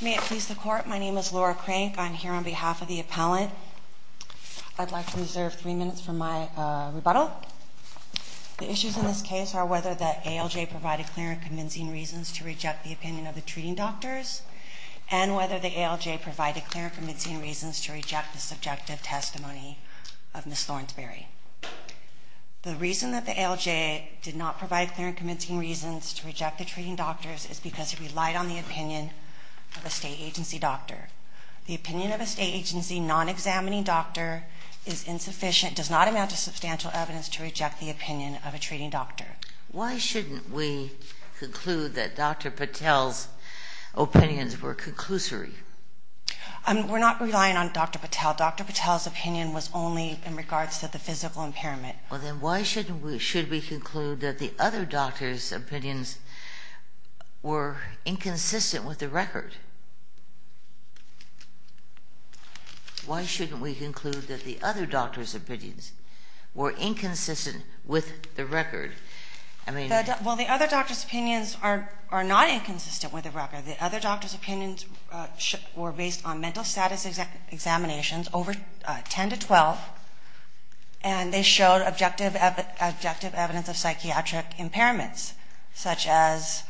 May it please the Court, my name is Laura Crank. I'm here on behalf of the appellant. I'd like to reserve three minutes for my rebuttal. The issues in this case are whether the ALJ provided clear and convincing reasons to reject the opinion of the treating doctors, and whether the ALJ provided clear and convincing reasons to reject the subjective testimony of Ms. Thornsberry. The reason that the ALJ did not provide clear and convincing reasons to reject the treating doctors is because it relied on the opinion of a state agency doctor. The opinion of a state agency non-examining doctor is insufficient, does not amount to substantial evidence to reject the opinion of a treating doctor. Why shouldn't we conclude that Dr. Patel's opinions were conclusory? We're not relying on Dr. Patel. Dr. Patel's opinion was only in regards to the physical impairment. Well, then why shouldn't we conclude that the other doctors' opinions were inconsistent with the record? Why shouldn't we conclude that the other doctors' opinions were inconsistent with the record? Well, the other doctors' opinions are not inconsistent with the record. The other doctors' opinions were based on mental status examinations over 10 to 12, and they showed objective evidence of psychiatric impairments, such as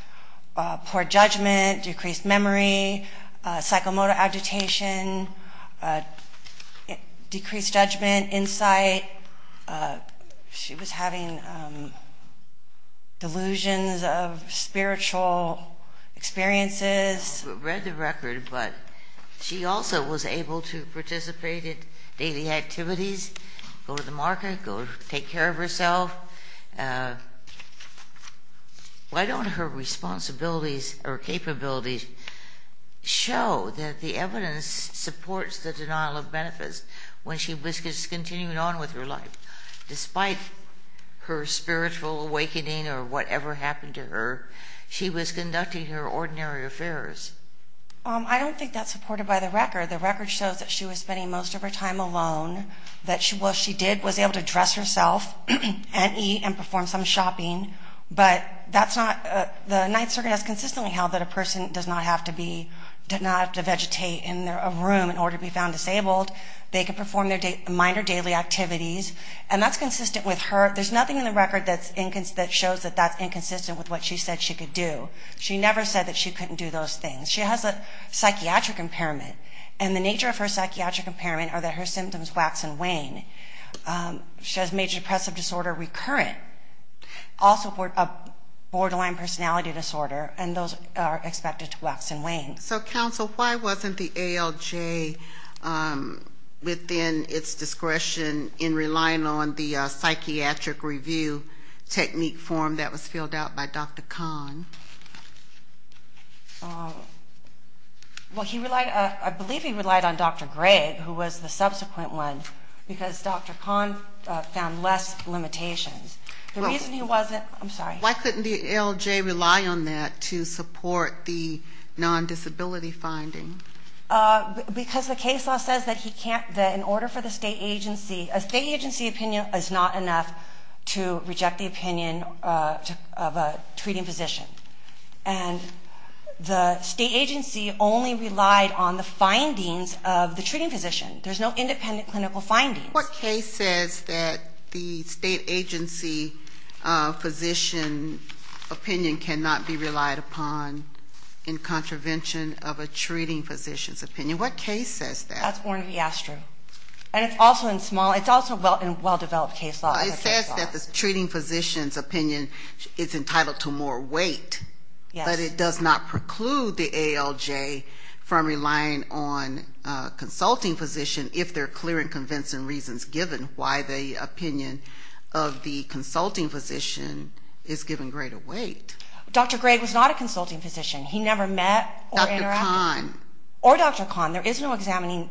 poor judgment, decreased memory, psychomotor agitation, decreased judgment, insight. She was having delusions of spiritual experiences. She read the record, but she also was able to participate in daily activities, go to the market, go take care of herself. Why don't her responsibilities or capabilities show that the evidence supports the denial of benefits when she was continuing on with her life? Despite her spiritual awakening or whatever happened to her, she was conducting her ordinary affairs. I don't think that's supported by the record. The record shows that she was spending most of her time alone, that what she did was able to dress herself and eat and perform some shopping, but that's not the Ninth Circuit has consistently held that a person does not have to be, does not have to vegetate in a room in order to be found disabled. They can perform their minor daily activities, and that's consistent with her. There's nothing in the record that shows that that's inconsistent with what she said she could do. She never said that she couldn't do those things. She has a psychiatric impairment, and the nature of her psychiatric impairment are that her symptoms wax and wane. She has major depressive disorder recurrent, also a borderline personality disorder, and those are expected to wax and wane. So, counsel, why wasn't the ALJ within its discretion in relying on the psychiatric review technique form that was filled out by Dr. Kahn? Well, I believe he relied on Dr. Gregg, who was the subsequent one, because Dr. Kahn found less limitations. The reason he wasn't, I'm sorry. Why couldn't the ALJ rely on that to support the non-disability finding? Because the case law says that he can't, that in order for the state agency, a state agency opinion is not enough to reject the opinion of a treating physician. And the state agency only relied on the findings of the treating physician. There's no independent clinical findings. What case says that the state agency physician opinion cannot be relied upon in contravention of a treating physician's opinion? What case says that? That's Ornithiastro. And it's also in small, it's also in well-developed case law. It says that the treating physician's opinion is entitled to more weight, but it does not preclude the ALJ from relying on a consulting physician if they're clear and convincing reasons, given why the opinion of the consulting physician is given greater weight. Dr. Gregg was not a consulting physician. He never met or interacted. Dr. Kahn. Or Dr. Kahn. There is no examining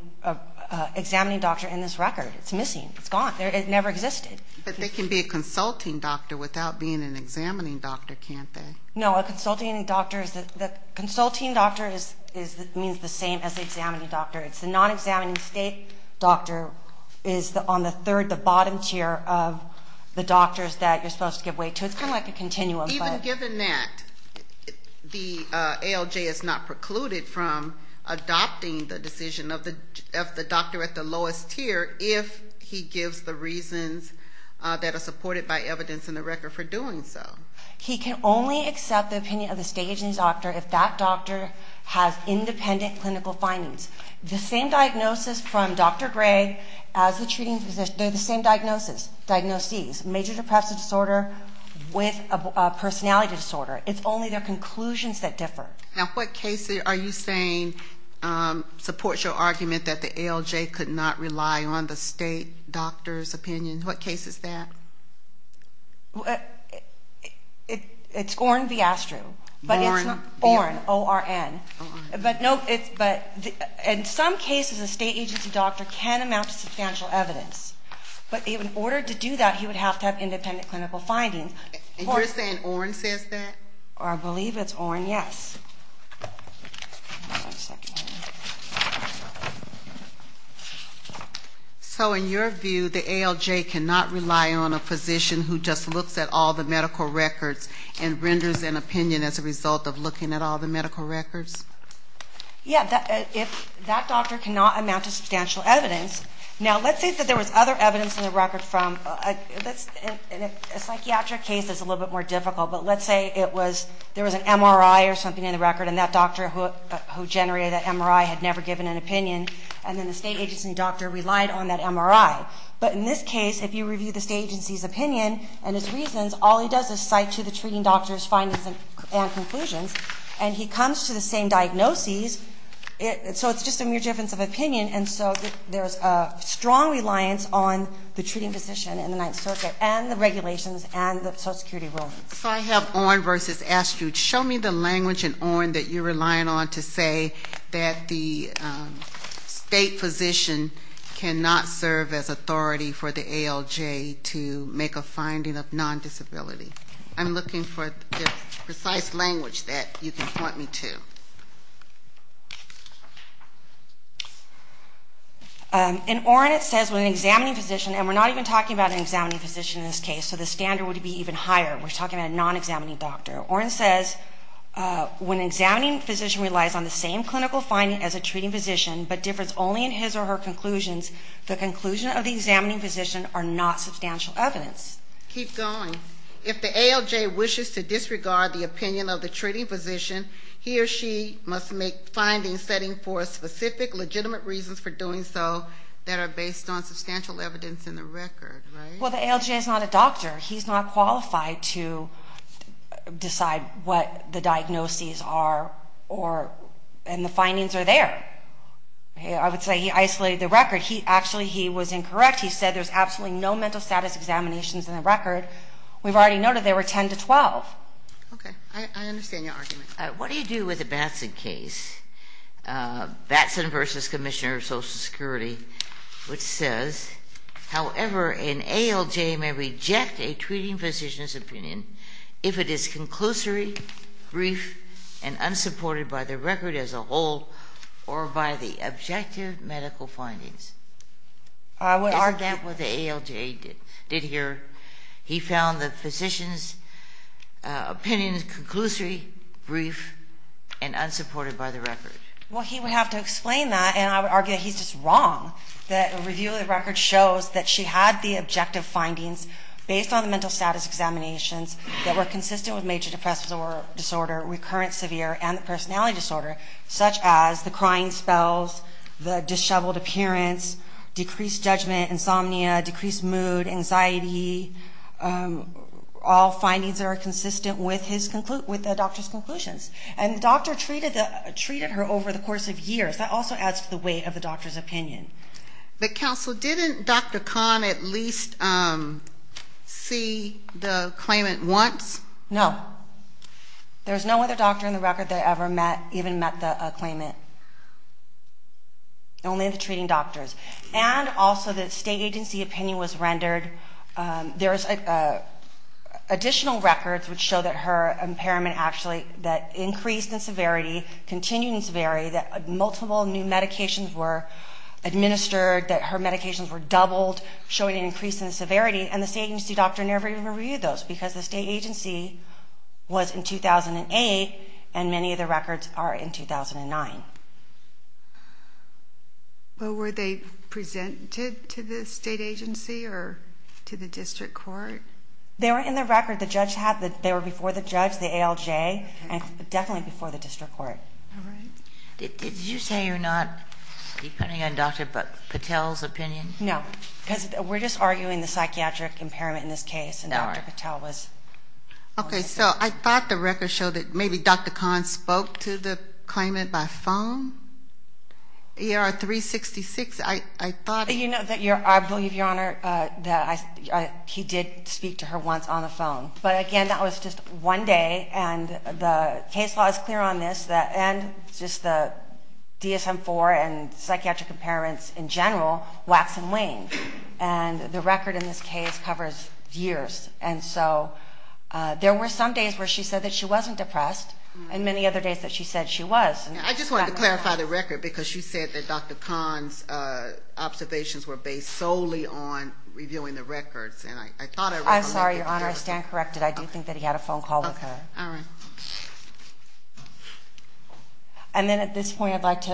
doctor in this record. It's missing. It's gone. It never existed. But they can be a consulting doctor without being an examining doctor, can't they? No, a consulting doctor is the same as an examining doctor. It's the non-examining state doctor is on the third, the bottom tier of the doctors that you're supposed to give weight to. It's kind of like a continuum. Even given that, the ALJ is not precluded from adopting the decision of the doctor at the lowest tier if he gives the reasons that are supported by evidence in the record for doing so. He can only accept the opinion of the state agency doctor if that doctor has independent clinical findings. The same diagnosis from Dr. Gregg as the treating physician, they're the same diagnoses, major depressive disorder with a personality disorder. It's only their conclusions that differ. Now, what case are you saying supports your argument that the ALJ could not rely on the state doctor's opinion? What case is that? It's Orn Viastru. Orn? Orn, O-R-N. But in some cases, a state agency doctor can amount to substantial evidence. But in order to do that, he would have to have independent clinical findings. And you're saying Orn says that? I believe it's Orn, yes. One second. So in your view, the ALJ cannot rely on a physician who just looks at all the medical records and renders an opinion as a result of looking at all the medical records? Yeah, that doctor cannot amount to substantial evidence. Now, let's say that there was other evidence in the record from a psychiatric case that's a little bit more difficult. But let's say there was an MRI or something in the record, and that doctor who generated that MRI had never given an opinion, and then the state agency doctor relied on that MRI. But in this case, if you review the state agency's opinion and his reasons, all he does is cite to the treating doctor's findings and conclusions, and he comes to the same diagnoses. So it's just a mere difference of opinion, and so there's a strong reliance on the treating physician in the Ninth Circuit and the regulations and the Social Security rulings. So I have Orn versus Astute. Show me the language in Orn that you're relying on to say that the state physician cannot serve as authority for the ALJ to make a finding of non-disability. I'm looking for the precise language that you can point me to. In Orn, it says when an examining physician, and we're not even talking about an examining physician in this case, so the standard would be even higher. We're talking about a non-examining doctor. Orn says, when an examining physician relies on the same clinical finding as a treating physician but differs only in his or her conclusions, the conclusions of the examining physician are not substantial evidence. Keep going. If the ALJ wishes to disregard the opinion of the treating physician, he or she must make findings setting for specific legitimate reasons for doing so that are based on substantial evidence in the record, right? Well, the ALJ is not a doctor. He's not qualified to decide what the diagnoses are and the findings are there. I would say he isolated the record. Actually, he was incorrect. He said there's absolutely no mental status examinations in the record. We've already noted there were 10 to 12. Okay. I understand your argument. What do you do with the Batson case? Batson v. Commissioner of Social Security, which says, however, an ALJ may reject a treating physician's opinion if it is conclusory, brief, and unsupported by the record as a whole or by the objective medical findings. Isn't that what the ALJ did here? He found the physician's opinion conclusory, brief, and unsupported by the record. Well, he would have to explain that, and I would argue that he's just wrong, that a review of the record shows that she had the objective findings based on the mental status examinations that were consistent with major depressive disorder, recurrent severe, and the personality disorder, such as the crying spells, the disheveled appearance, decreased judgment, insomnia, decreased mood, anxiety, all findings that are consistent with the doctor's conclusions. And the doctor treated her over the course of years. That also adds to the weight of the doctor's opinion. But, Counsel, didn't Dr. Kahn at least see the claimant once? No. There was no other doctor in the record that ever even met the claimant, only the treating doctors. And also the state agency opinion was rendered. There's additional records which show that her impairment actually increased in severity, continued in severity, that multiple new medications were administered, that her medications were doubled, showing an increase in severity, and the state agency doctor never even reviewed those because the state agency was in 2008 and many of the records are in 2009. Well, were they presented to the state agency or to the district court? They were in the record. They were before the judge, the ALJ, and definitely before the district court. All right. Did you say you're not depending on Dr. Patel's opinion? No, because we're just arguing the psychiatric impairment in this case, and Dr. Patel was. Okay, so I thought the record showed that maybe Dr. Kahn spoke to the claimant by phone. ER-366, I thought. You know, I believe, Your Honor, that he did speak to her once on the phone. But, again, that was just one day, and the case law is clear on this, and just the DSM-IV and psychiatric impairments in general wax and wane. And the record in this case covers years. And so there were some days where she said that she wasn't depressed and many other days that she said she was. I just wanted to clarify the record, because you said that Dr. Kahn's observations were based solely on reviewing the records. I'm sorry, Your Honor, I stand corrected. I do think that he had a phone call with her. All right. And then at this point, I'd like to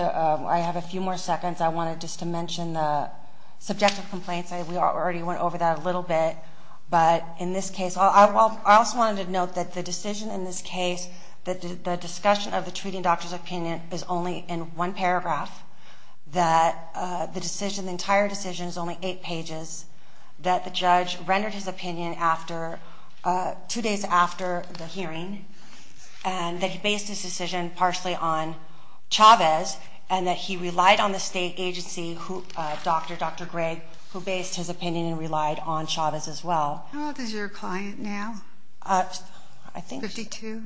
have a few more seconds. I wanted just to mention the subjective complaints. We already went over that a little bit. But in this case, I also wanted to note that the decision in this case, the discussion of the treating doctor's opinion is only in one paragraph, that the entire decision is only eight pages, that the judge rendered his opinion two days after the hearing, and that he based his decision partially on Chavez, and that he relied on the state agency, Dr. Gray, who based his opinion and relied on Chavez as well. How old is your client now? Fifty-two.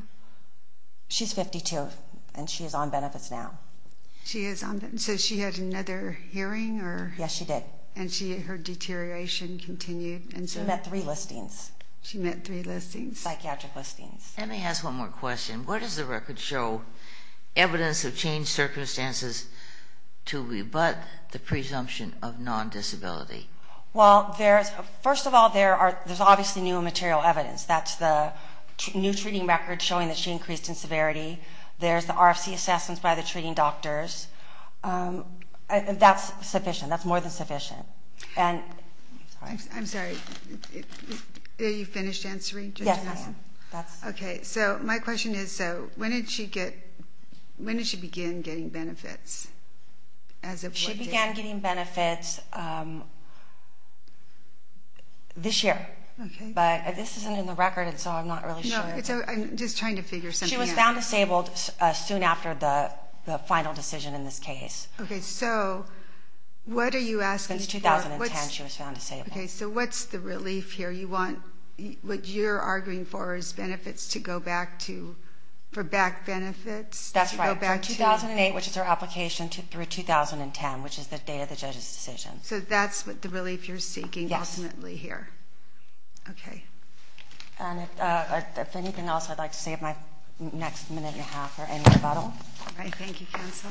She's 52, and she is on benefits now. So she had another hearing? Yes, she did. And her deterioration continued? She met three listings. She met three listings? Psychiatric listings. Let me ask one more question. What does the record show evidence of changed circumstances to rebut the presumption of non-disability? Well, first of all, there's obviously new material evidence. That's the new treating record showing that she increased in severity. There's the RFC assessments by the treating doctors. That's sufficient. That's more than sufficient. I'm sorry. Are you finished answering? Yes, I am. Okay, so my question is, when did she begin getting benefits? She began getting benefits this year. But this isn't in the record, so I'm not really sure. I'm just trying to figure something out. She was found disabled soon after the final decision in this case. Okay, so what are you asking for? Since 2010, she was found disabled. Okay, so what's the relief here? Do you want what you're arguing for as benefits to go back to for back benefits? That's right. From 2008, which is her application, through 2010, which is the date of the judge's decision. So that's what the relief you're seeking ultimately here? Yes. Okay. If anything else, I'd like to save my next minute and a half for any rebuttal. All right, thank you, counsel. Thank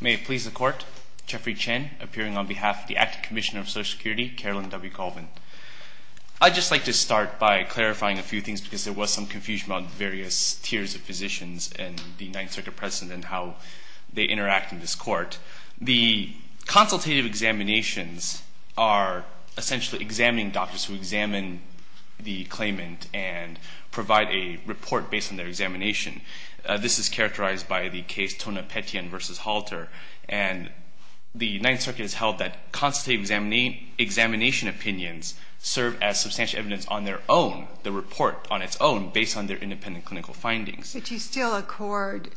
you. May it please the Court, Jeffrey Chen, appearing on behalf of the Acting Commissioner of Social Security, Carolyn W. Colvin. I'd just like to start by clarifying a few things because there was some confusion about various tiers of physicians and the 9th Circuit President and how they interact in this court. The consultative examinations are essentially examining doctors who examine the claimant and provide a report based on their examination. This is characterized by the case Tonopetian v. Halter, and the 9th Circuit has held that consultative examination opinions serve as substantial evidence on their own, the report on its own, based on their independent clinical findings. But you still accord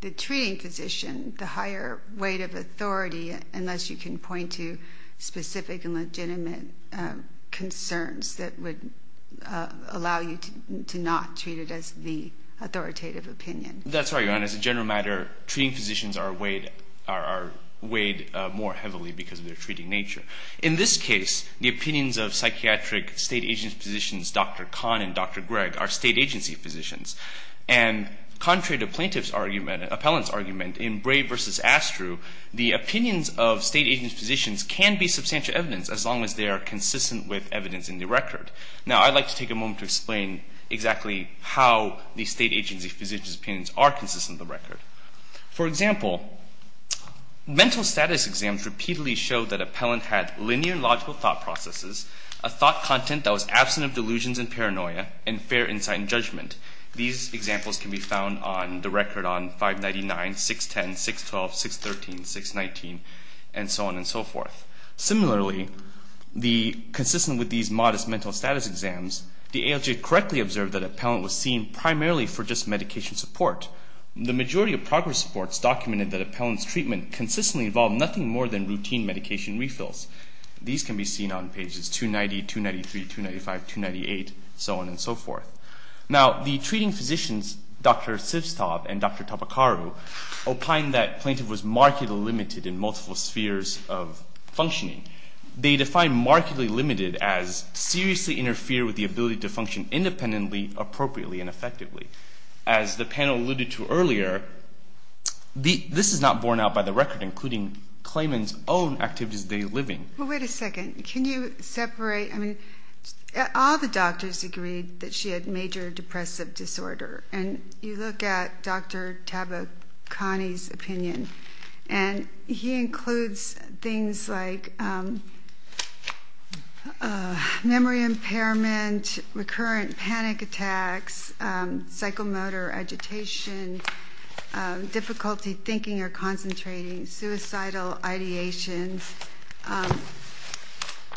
the treating physician the higher weight of authority unless you can point to specific and legitimate concerns that would allow you to not treat it as the authoritative opinion. That's right. And as a general matter, treating physicians are weighed more heavily because of their treating nature. In this case, the opinions of psychiatric state agent physicians, Dr. Kahn and Dr. Gregg, are state agency physicians. And contrary to plaintiff's argument and appellant's argument, in Bray v. Astrew, the opinions of state agency physicians can be substantial evidence as long as they are consistent with evidence in the record. Now I'd like to take a moment to explain exactly how the state agency physicians' opinions are consistent with the record. For example, mental status exams repeatedly show that appellant had linear logical thought processes, a thought content that was absent of delusions and paranoia, and fair insight and judgment. These examples can be found on the record on 599, 610, 612, 613, 619, and so on and so forth. Similarly, consistent with these modest mental status exams, the ALJ correctly observed that appellant was seen primarily for just medication support. The majority of progress reports documented that appellant's treatment consistently involved nothing more than routine medication refills. These can be seen on pages 290, 293, 295, 298, so on and so forth. Now, the treating physicians, Dr. Sivstov and Dr. Topekaru, opine that plaintiff was markedly limited in multiple spheres of functioning. They define markedly limited as seriously interfere with the ability to function independently, appropriately, and effectively. As the panel alluded to earlier, this is not borne out by the record, including claimant's own activities of daily living. Well, wait a second. Can you separate, I mean, all the doctors agreed that she had major depressive disorder, and you look at Dr. Tabakani's opinion, and he includes things like memory impairment, recurrent panic attacks, psychomotor agitation, difficulty thinking or concentrating, suicidal ideations.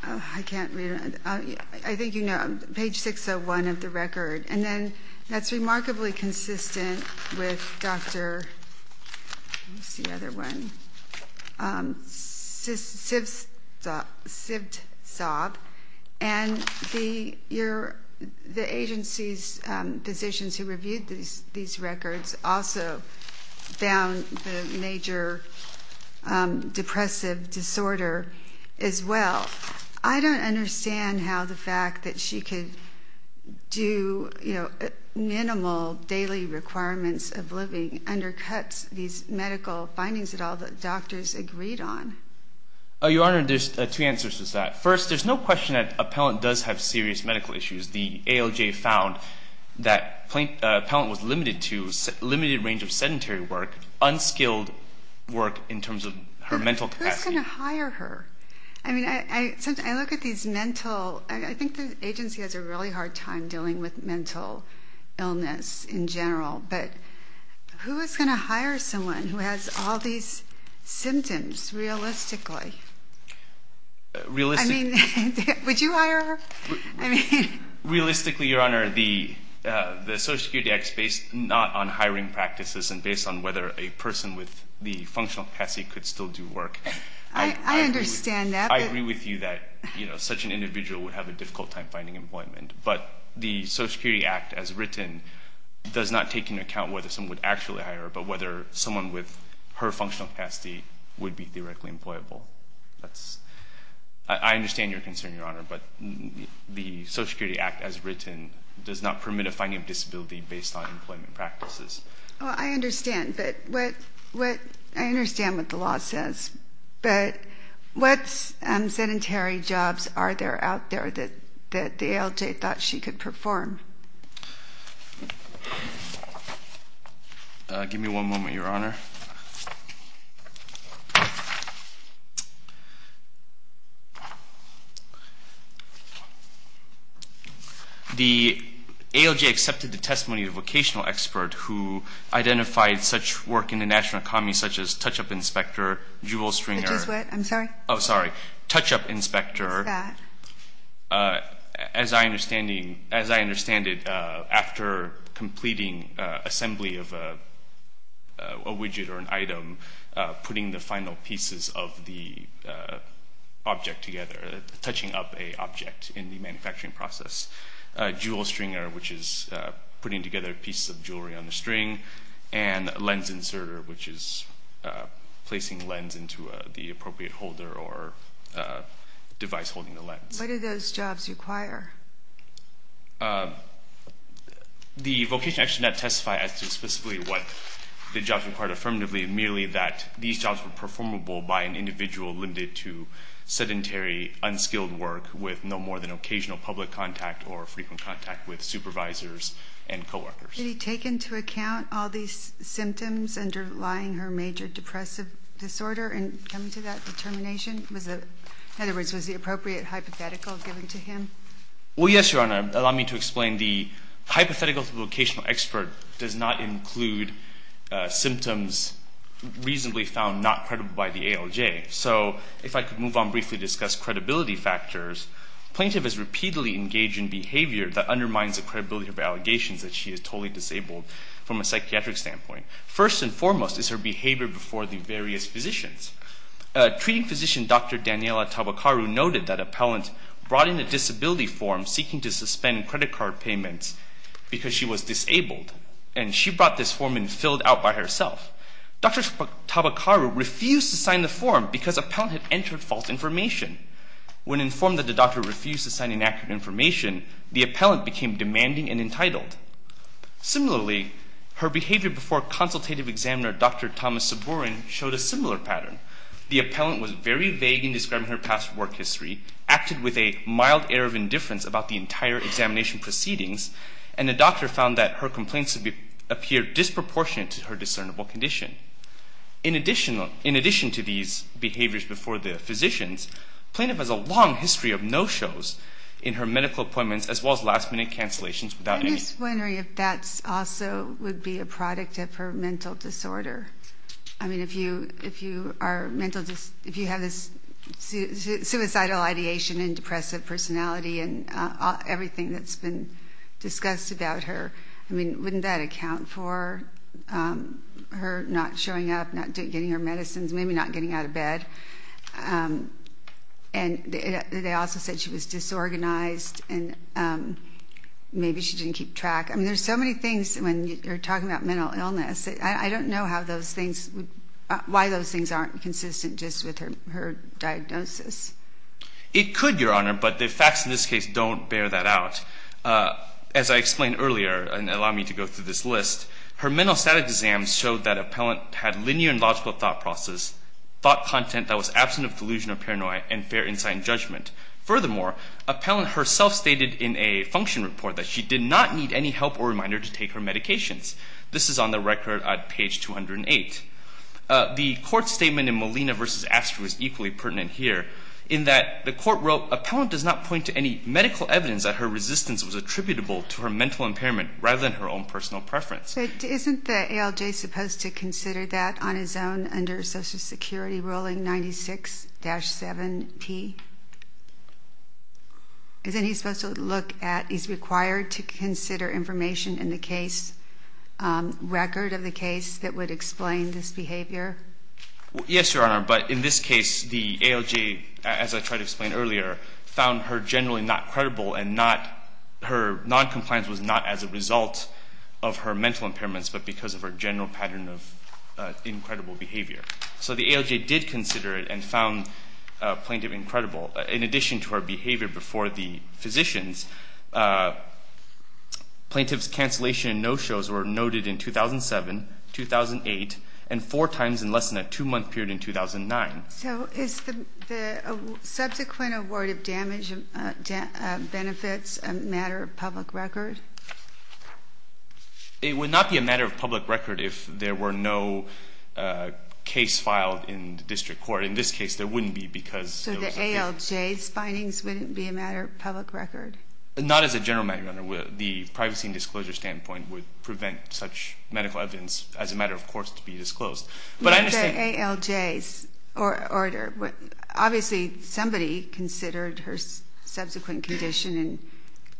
I can't read it. I think you know, page 601 of the record. And then that's remarkably consistent with Dr. Sivtsov, and the agency's physicians who reviewed these records also found the major depressive disorder as well. I don't understand how the fact that she could do minimal daily requirements of living undercuts these medical findings that all the doctors agreed on. Your Honor, there's two answers to that. First, there's no question that a palant does have serious medical issues. The ALJ found that a palant was limited to a limited range of sedentary work, unskilled work in terms of her mental capacity. Who's going to hire her? I mean, I look at these mental, I think the agency has a really hard time dealing with mental illness in general, but who is going to hire someone who has all these symptoms realistically? Realistically? I mean, would you hire her? Realistically, Your Honor, the Social Security Act is based not on hiring practices and based on whether a person with the functional capacity could still do work. I understand that. I agree with you that, you know, such an individual would have a difficult time finding employment. But the Social Security Act as written does not take into account whether someone would actually hire her, but whether someone with her functional capacity would be theoretically employable. I understand your concern, Your Honor, but the Social Security Act as written does not permit a finding of disability based on employment practices. Well, I understand, but I understand what the law says. But what sedentary jobs are there out there that the ALJ thought she could perform? Give me one moment, Your Honor. The ALJ accepted the testimony of a vocational expert who identified such work in the national economy such as touch-up inspector, jewel stringer. I just went. I'm sorry. Oh, sorry. Touch-up inspector. It's that. As I understand it, after completing assembly of a widget or an item, putting the final pieces of the object together, touching up an object in the manufacturing process, jewel stringer, which is putting together pieces of jewelry on the string, and lens inserter, which is placing lens into the appropriate holder or device holding the lens. What do those jobs require? The vocational expert did not testify as to specifically what the jobs required affirmatively, merely that these jobs were performable by an individual limited to sedentary, unskilled work with no more than occasional public contact or frequent contact with supervisors and coworkers. Did he take into account all these symptoms underlying her major depressive disorder in coming to that determination? In other words, was the appropriate hypothetical given to him? Well, yes, Your Honor. Allow me to explain. The hypothetical vocational expert does not include symptoms reasonably found not credible by the ALJ. So if I could move on briefly to discuss credibility factors, plaintiff is repeatedly engaged in behavior that undermines the credibility of allegations that she is totally disabled from a psychiatric standpoint. First and foremost is her behavior before the various physicians. Treating physician Dr. Daniela Tabakaru noted that appellant brought in a disability form seeking to suspend credit card payments because she was disabled, and she brought this form in filled out by herself. Dr. Tabakaru refused to sign the form because appellant had entered false information. When informed that the doctor refused to sign inaccurate information, the appellant became demanding and entitled. Similarly, her behavior before consultative examiner Dr. Thomas Sabourin showed a similar pattern. The appellant was very vague in describing her past work history, acted with a mild air of indifference about the entire examination proceedings, and the doctor found that her complaints appeared disproportionate to her discernible condition. In addition to these behaviors before the physicians, plaintiff has a long history of no-shows in her medical appointments as well as last-minute cancellations without any... I'm just wondering if that also would be a product of her mental disorder. I mean, if you have this suicidal ideation and depressive personality and everything that's been discussed about her, I mean, wouldn't that account for her not showing up, not getting her medicines, maybe not getting out of bed? And they also said she was disorganized and maybe she didn't keep track. I mean, there's so many things when you're talking about mental illness. I don't know how those things would... why those things aren't consistent just with her diagnosis. It could, Your Honor, but the facts in this case don't bear that out. As I explained earlier, and allow me to go through this list, her mental statics exam showed that Appellant had linear and logical thought process, thought content that was absent of delusion or paranoia, and fair insight and judgment. Furthermore, Appellant herself stated in a function report that she did not need any help or reminder to take her medications. This is on the record at page 208. The court statement in Molina v. Astor was equally pertinent here in that the court wrote, Appellant does not point to any medical evidence that her resistance was attributable to her mental impairment rather than her own personal preference. Isn't the ALJ supposed to consider that on his own under Social Security ruling 96-7P? Isn't he supposed to look at... he's required to consider information in the case, record of the case that would explain this behavior? Yes, Your Honor, but in this case, the ALJ, as I tried to explain earlier, found her generally not credible and not... her noncompliance was not as a result of her mental impairments but because of her general pattern of incredible behavior. So the ALJ did consider it and found Plaintiff incredible. In addition to her behavior before the physicians, Plaintiff's cancellation and no-shows were noted in 2007, 2008, and four times in less than a two-month period in 2009. So is the subsequent award of damage benefits a matter of public record? It would not be a matter of public record if there were no case filed in the district court. In this case, there wouldn't be because... So the ALJ's findings wouldn't be a matter of public record? Not as a general matter, Your Honor. The privacy and disclosure standpoint would prevent such medical evidence as a matter of course to be disclosed. But I understand... Not the ALJ's order. Obviously, somebody considered her subsequent condition and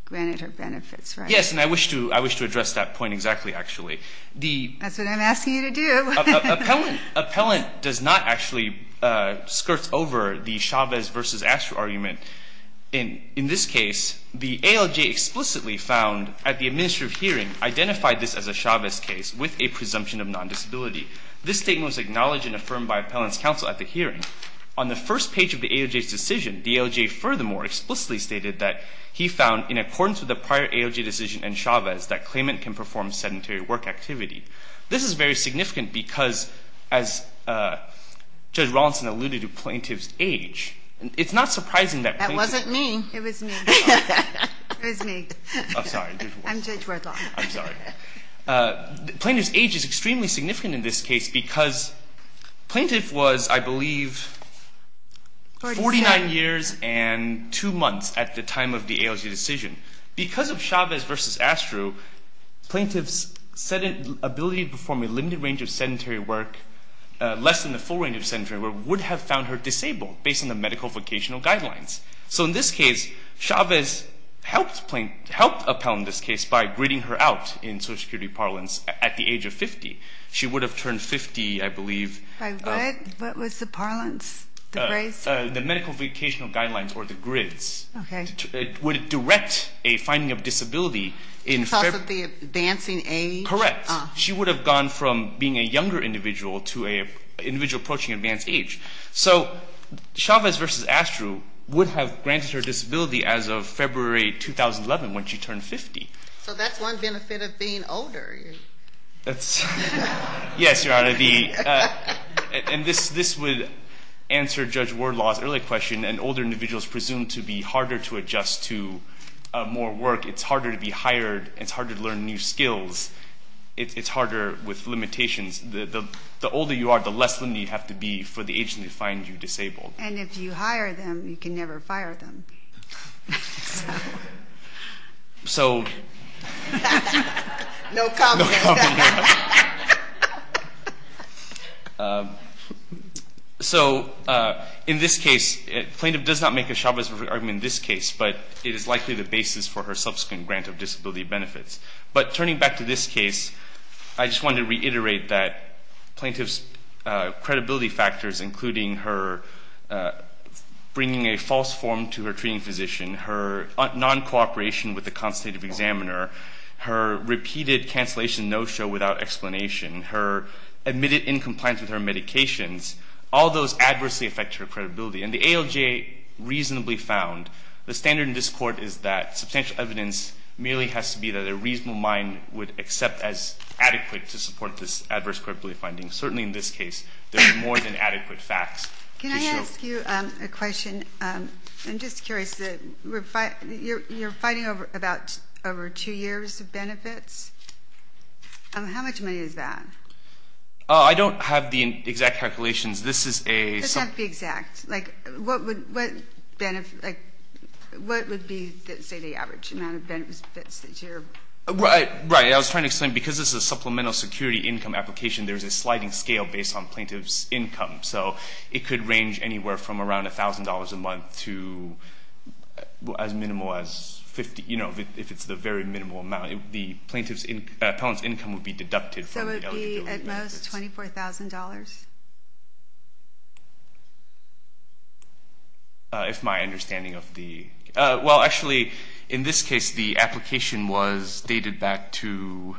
granted her benefits, right? Yes, and I wish to address that point exactly, actually. That's what I'm asking you to do. Appellant does not actually skirt over the Chavez v. Asher argument. In this case, the ALJ explicitly found at the administrative hearing identified this as a Chavez case with a presumption of non-disability. This statement was acknowledged and affirmed by appellant's counsel at the hearing. On the first page of the ALJ's decision, the ALJ furthermore explicitly stated that he found, in accordance with the prior ALJ decision and Chavez, that claimant can perform sedentary work activity. This is very significant because, as Judge Rawlinson alluded to, plaintiff's age. It's not surprising that plaintiffs... That wasn't me. It was me. It was me. I'm sorry. I'm Judge Rothoff. I'm sorry. Plaintiff's age is extremely significant in this case because plaintiff was, I believe, 49 years and 2 months at the time of the ALJ decision. Because of Chavez v. Asher, plaintiff's ability to perform a limited range of sedentary work, less than the full range of sedentary work, would have found her disabled based on the medical vocational guidelines. So in this case, Chavez helped appellant in this case by gridding her out in social security parlance at the age of 50. She would have turned 50, I believe. By what? What was the parlance? The grace? The medical vocational guidelines or the grids. Okay. It would direct a finding of disability in... Because of the advancing age? Correct. She would have gone from being a younger individual to an individual approaching advanced age. So Chavez v. Asher would have granted her disability as of February 2011 when she turned 50. So that's one benefit of being older. Yes, Your Honor. And this would answer Judge Wardlaw's earlier question. An older individual is presumed to be harder to adjust to more work. It's harder to be hired. It's harder to learn new skills. It's harder with limitations. The older you are, the less limited you have to be for the agent to find you disabled. And if you hire them, you can never fire them. So... No comment. So in this case, plaintiff does not make a Chavez argument in this case, but it is likely the basis for her subsequent grant of disability benefits. But turning back to this case, I just wanted to reiterate that plaintiff's credibility factors, including her bringing a false form to her treating physician, her non-cooperation with the consultative examiner, her repeated cancellation no-show without explanation, her admitted incompliance with her medications, all those adversely affect her credibility. And the ALJ reasonably found the standard in this court is that substantial evidence merely has to be that a reasonable mind would accept as adequate to support this adverse credibility finding. Certainly in this case, there's more than adequate facts to show. Can I ask you a question? I'm just curious. You're fighting over two years of benefits. How much money is that? I don't have the exact calculations. This is a... It doesn't have to be exact. What would be, say, the average amount of benefits that you're... Right. I was trying to explain because this is a supplemental security income application, there's a sliding scale based on plaintiff's income. So it could range anywhere from around $1,000 a month to as minimal as 50, if it's the very minimal amount. The appellant's income would be deducted from the eligibility benefits. At most, $24,000? If my understanding of the... Well, actually, in this case, the application was dated back to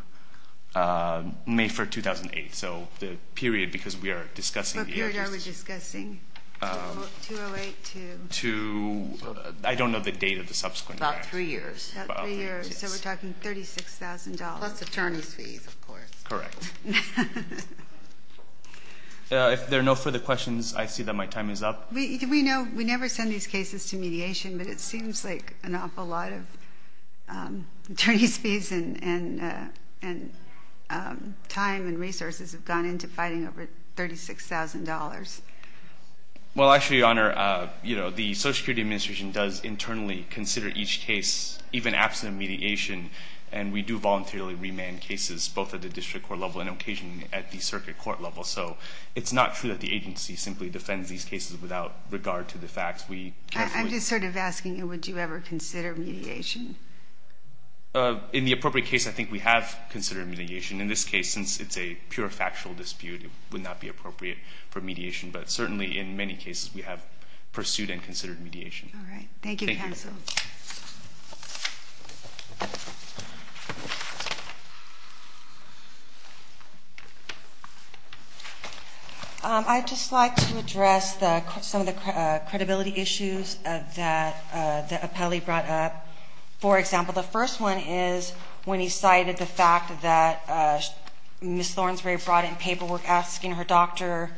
May 4, 2008. So the period because we are discussing... What period are we discussing? 208 to... I don't know the date of the subsequent... About three years. About three years. So we're talking $36,000. Plus attorney's fees, of course. Correct. If there are no further questions, I see that my time is up. We know we never send these cases to mediation, but it seems like an awful lot of attorney's fees and time and resources have gone into fighting over $36,000. Well, actually, Your Honor, the Social Security Administration does internally consider each case, even absent of mediation, and we do voluntarily remand cases both at the district court level and occasionally at the circuit court level. So it's not true that the agency simply defends these cases without regard to the facts. I'm just sort of asking, would you ever consider mediation? In the appropriate case, I think we have considered mediation. In this case, since it's a pure factual dispute, it would not be appropriate for mediation. But certainly in many cases, we have pursued and considered mediation. All right. Thank you, counsel. Thank you. Thank you. I'd just like to address some of the credibility issues that the appellee brought up. For example, the first one is when he cited the fact that Ms. Thornsberry brought in paperwork asking her doctor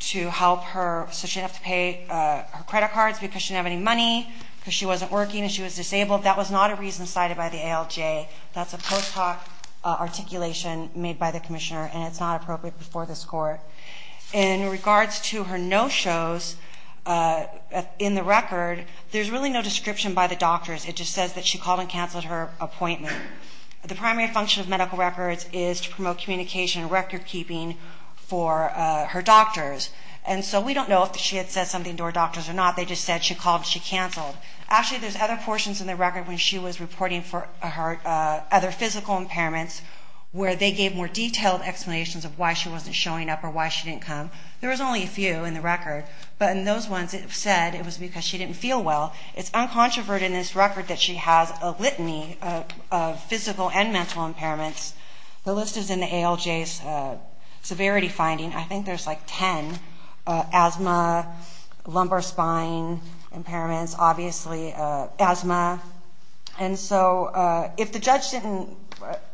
to help her so she didn't have to pay her credit cards because she didn't have any money, because she wasn't working and she was disabled. That was not a reason cited by the ALJ. That's a post hoc articulation made by the commissioner, and it's not appropriate before this court. In regards to her no-shows in the record, there's really no description by the doctors. It just says that she called and canceled her appointment. The primary function of medical records is to promote communication and record keeping for her doctors. And so we don't know if she had said something to her doctors or not. They just said she called and she canceled. Actually, there's other portions in the record when she was reporting for other physical impairments where they gave more detailed explanations of why she wasn't showing up or why she didn't come. There was only a few in the record. But in those ones it said it was because she didn't feel well. It's uncontroverted in this record that she has a litany of physical and mental impairments. The list is in the ALJ's severity finding. I think there's like 10 asthma, lumbar spine impairments, obviously asthma. And so if the judge didn't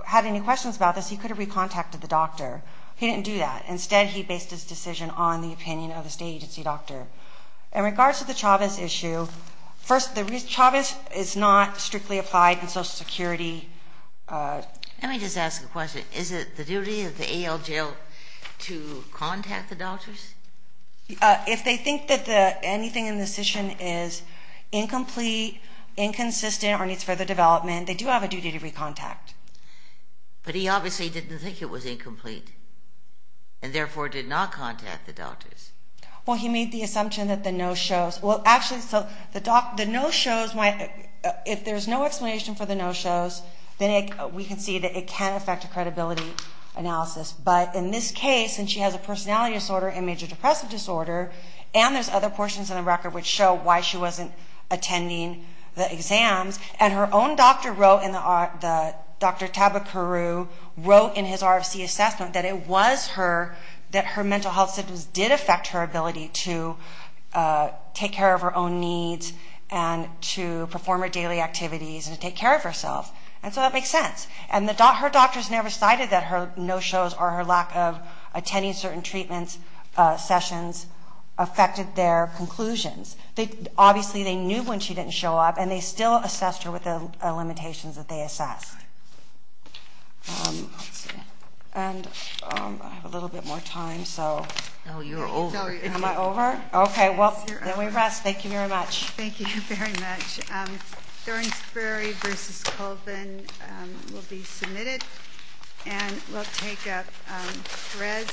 have any questions about this, he could have recontacted the doctor. He didn't do that. Instead, he based his decision on the opinion of the state agency doctor. In regards to the Chavez issue, first, Chavez is not strictly applied in Social Security. Let me just ask a question. Is it the duty of the ALJ to contact the doctors? If they think that anything in the decision is incomplete, inconsistent, or needs further development, they do have a duty to recontact. But he obviously didn't think it was incomplete and therefore did not contact the doctors. Well, he made the assumption that the no-shows. Well, actually, the no-shows, if there's no explanation for the no-shows, then we can see that it can affect a credibility analysis. But in this case, since she has a personality disorder and major depressive disorder, and there's other portions in the record which show why she wasn't attending the exams, and her own doctor, Dr. Tabakaru, wrote in his RFC assessment that it was her, that her mental health symptoms did affect her ability to take care of her own needs and to perform her daily activities and to take care of herself. And so that makes sense. And her doctors never cited that her no-shows or her lack of attending certain treatment sessions affected their conclusions. Obviously, they knew when she didn't show up, and they still assessed her with the limitations that they assessed. And I have a little bit more time, so... No, you're over. Am I over? Okay, well, then we rest. Thank you very much. Thank you very much. Thornsberry v. Colvin will be submitted, and we'll take up threads.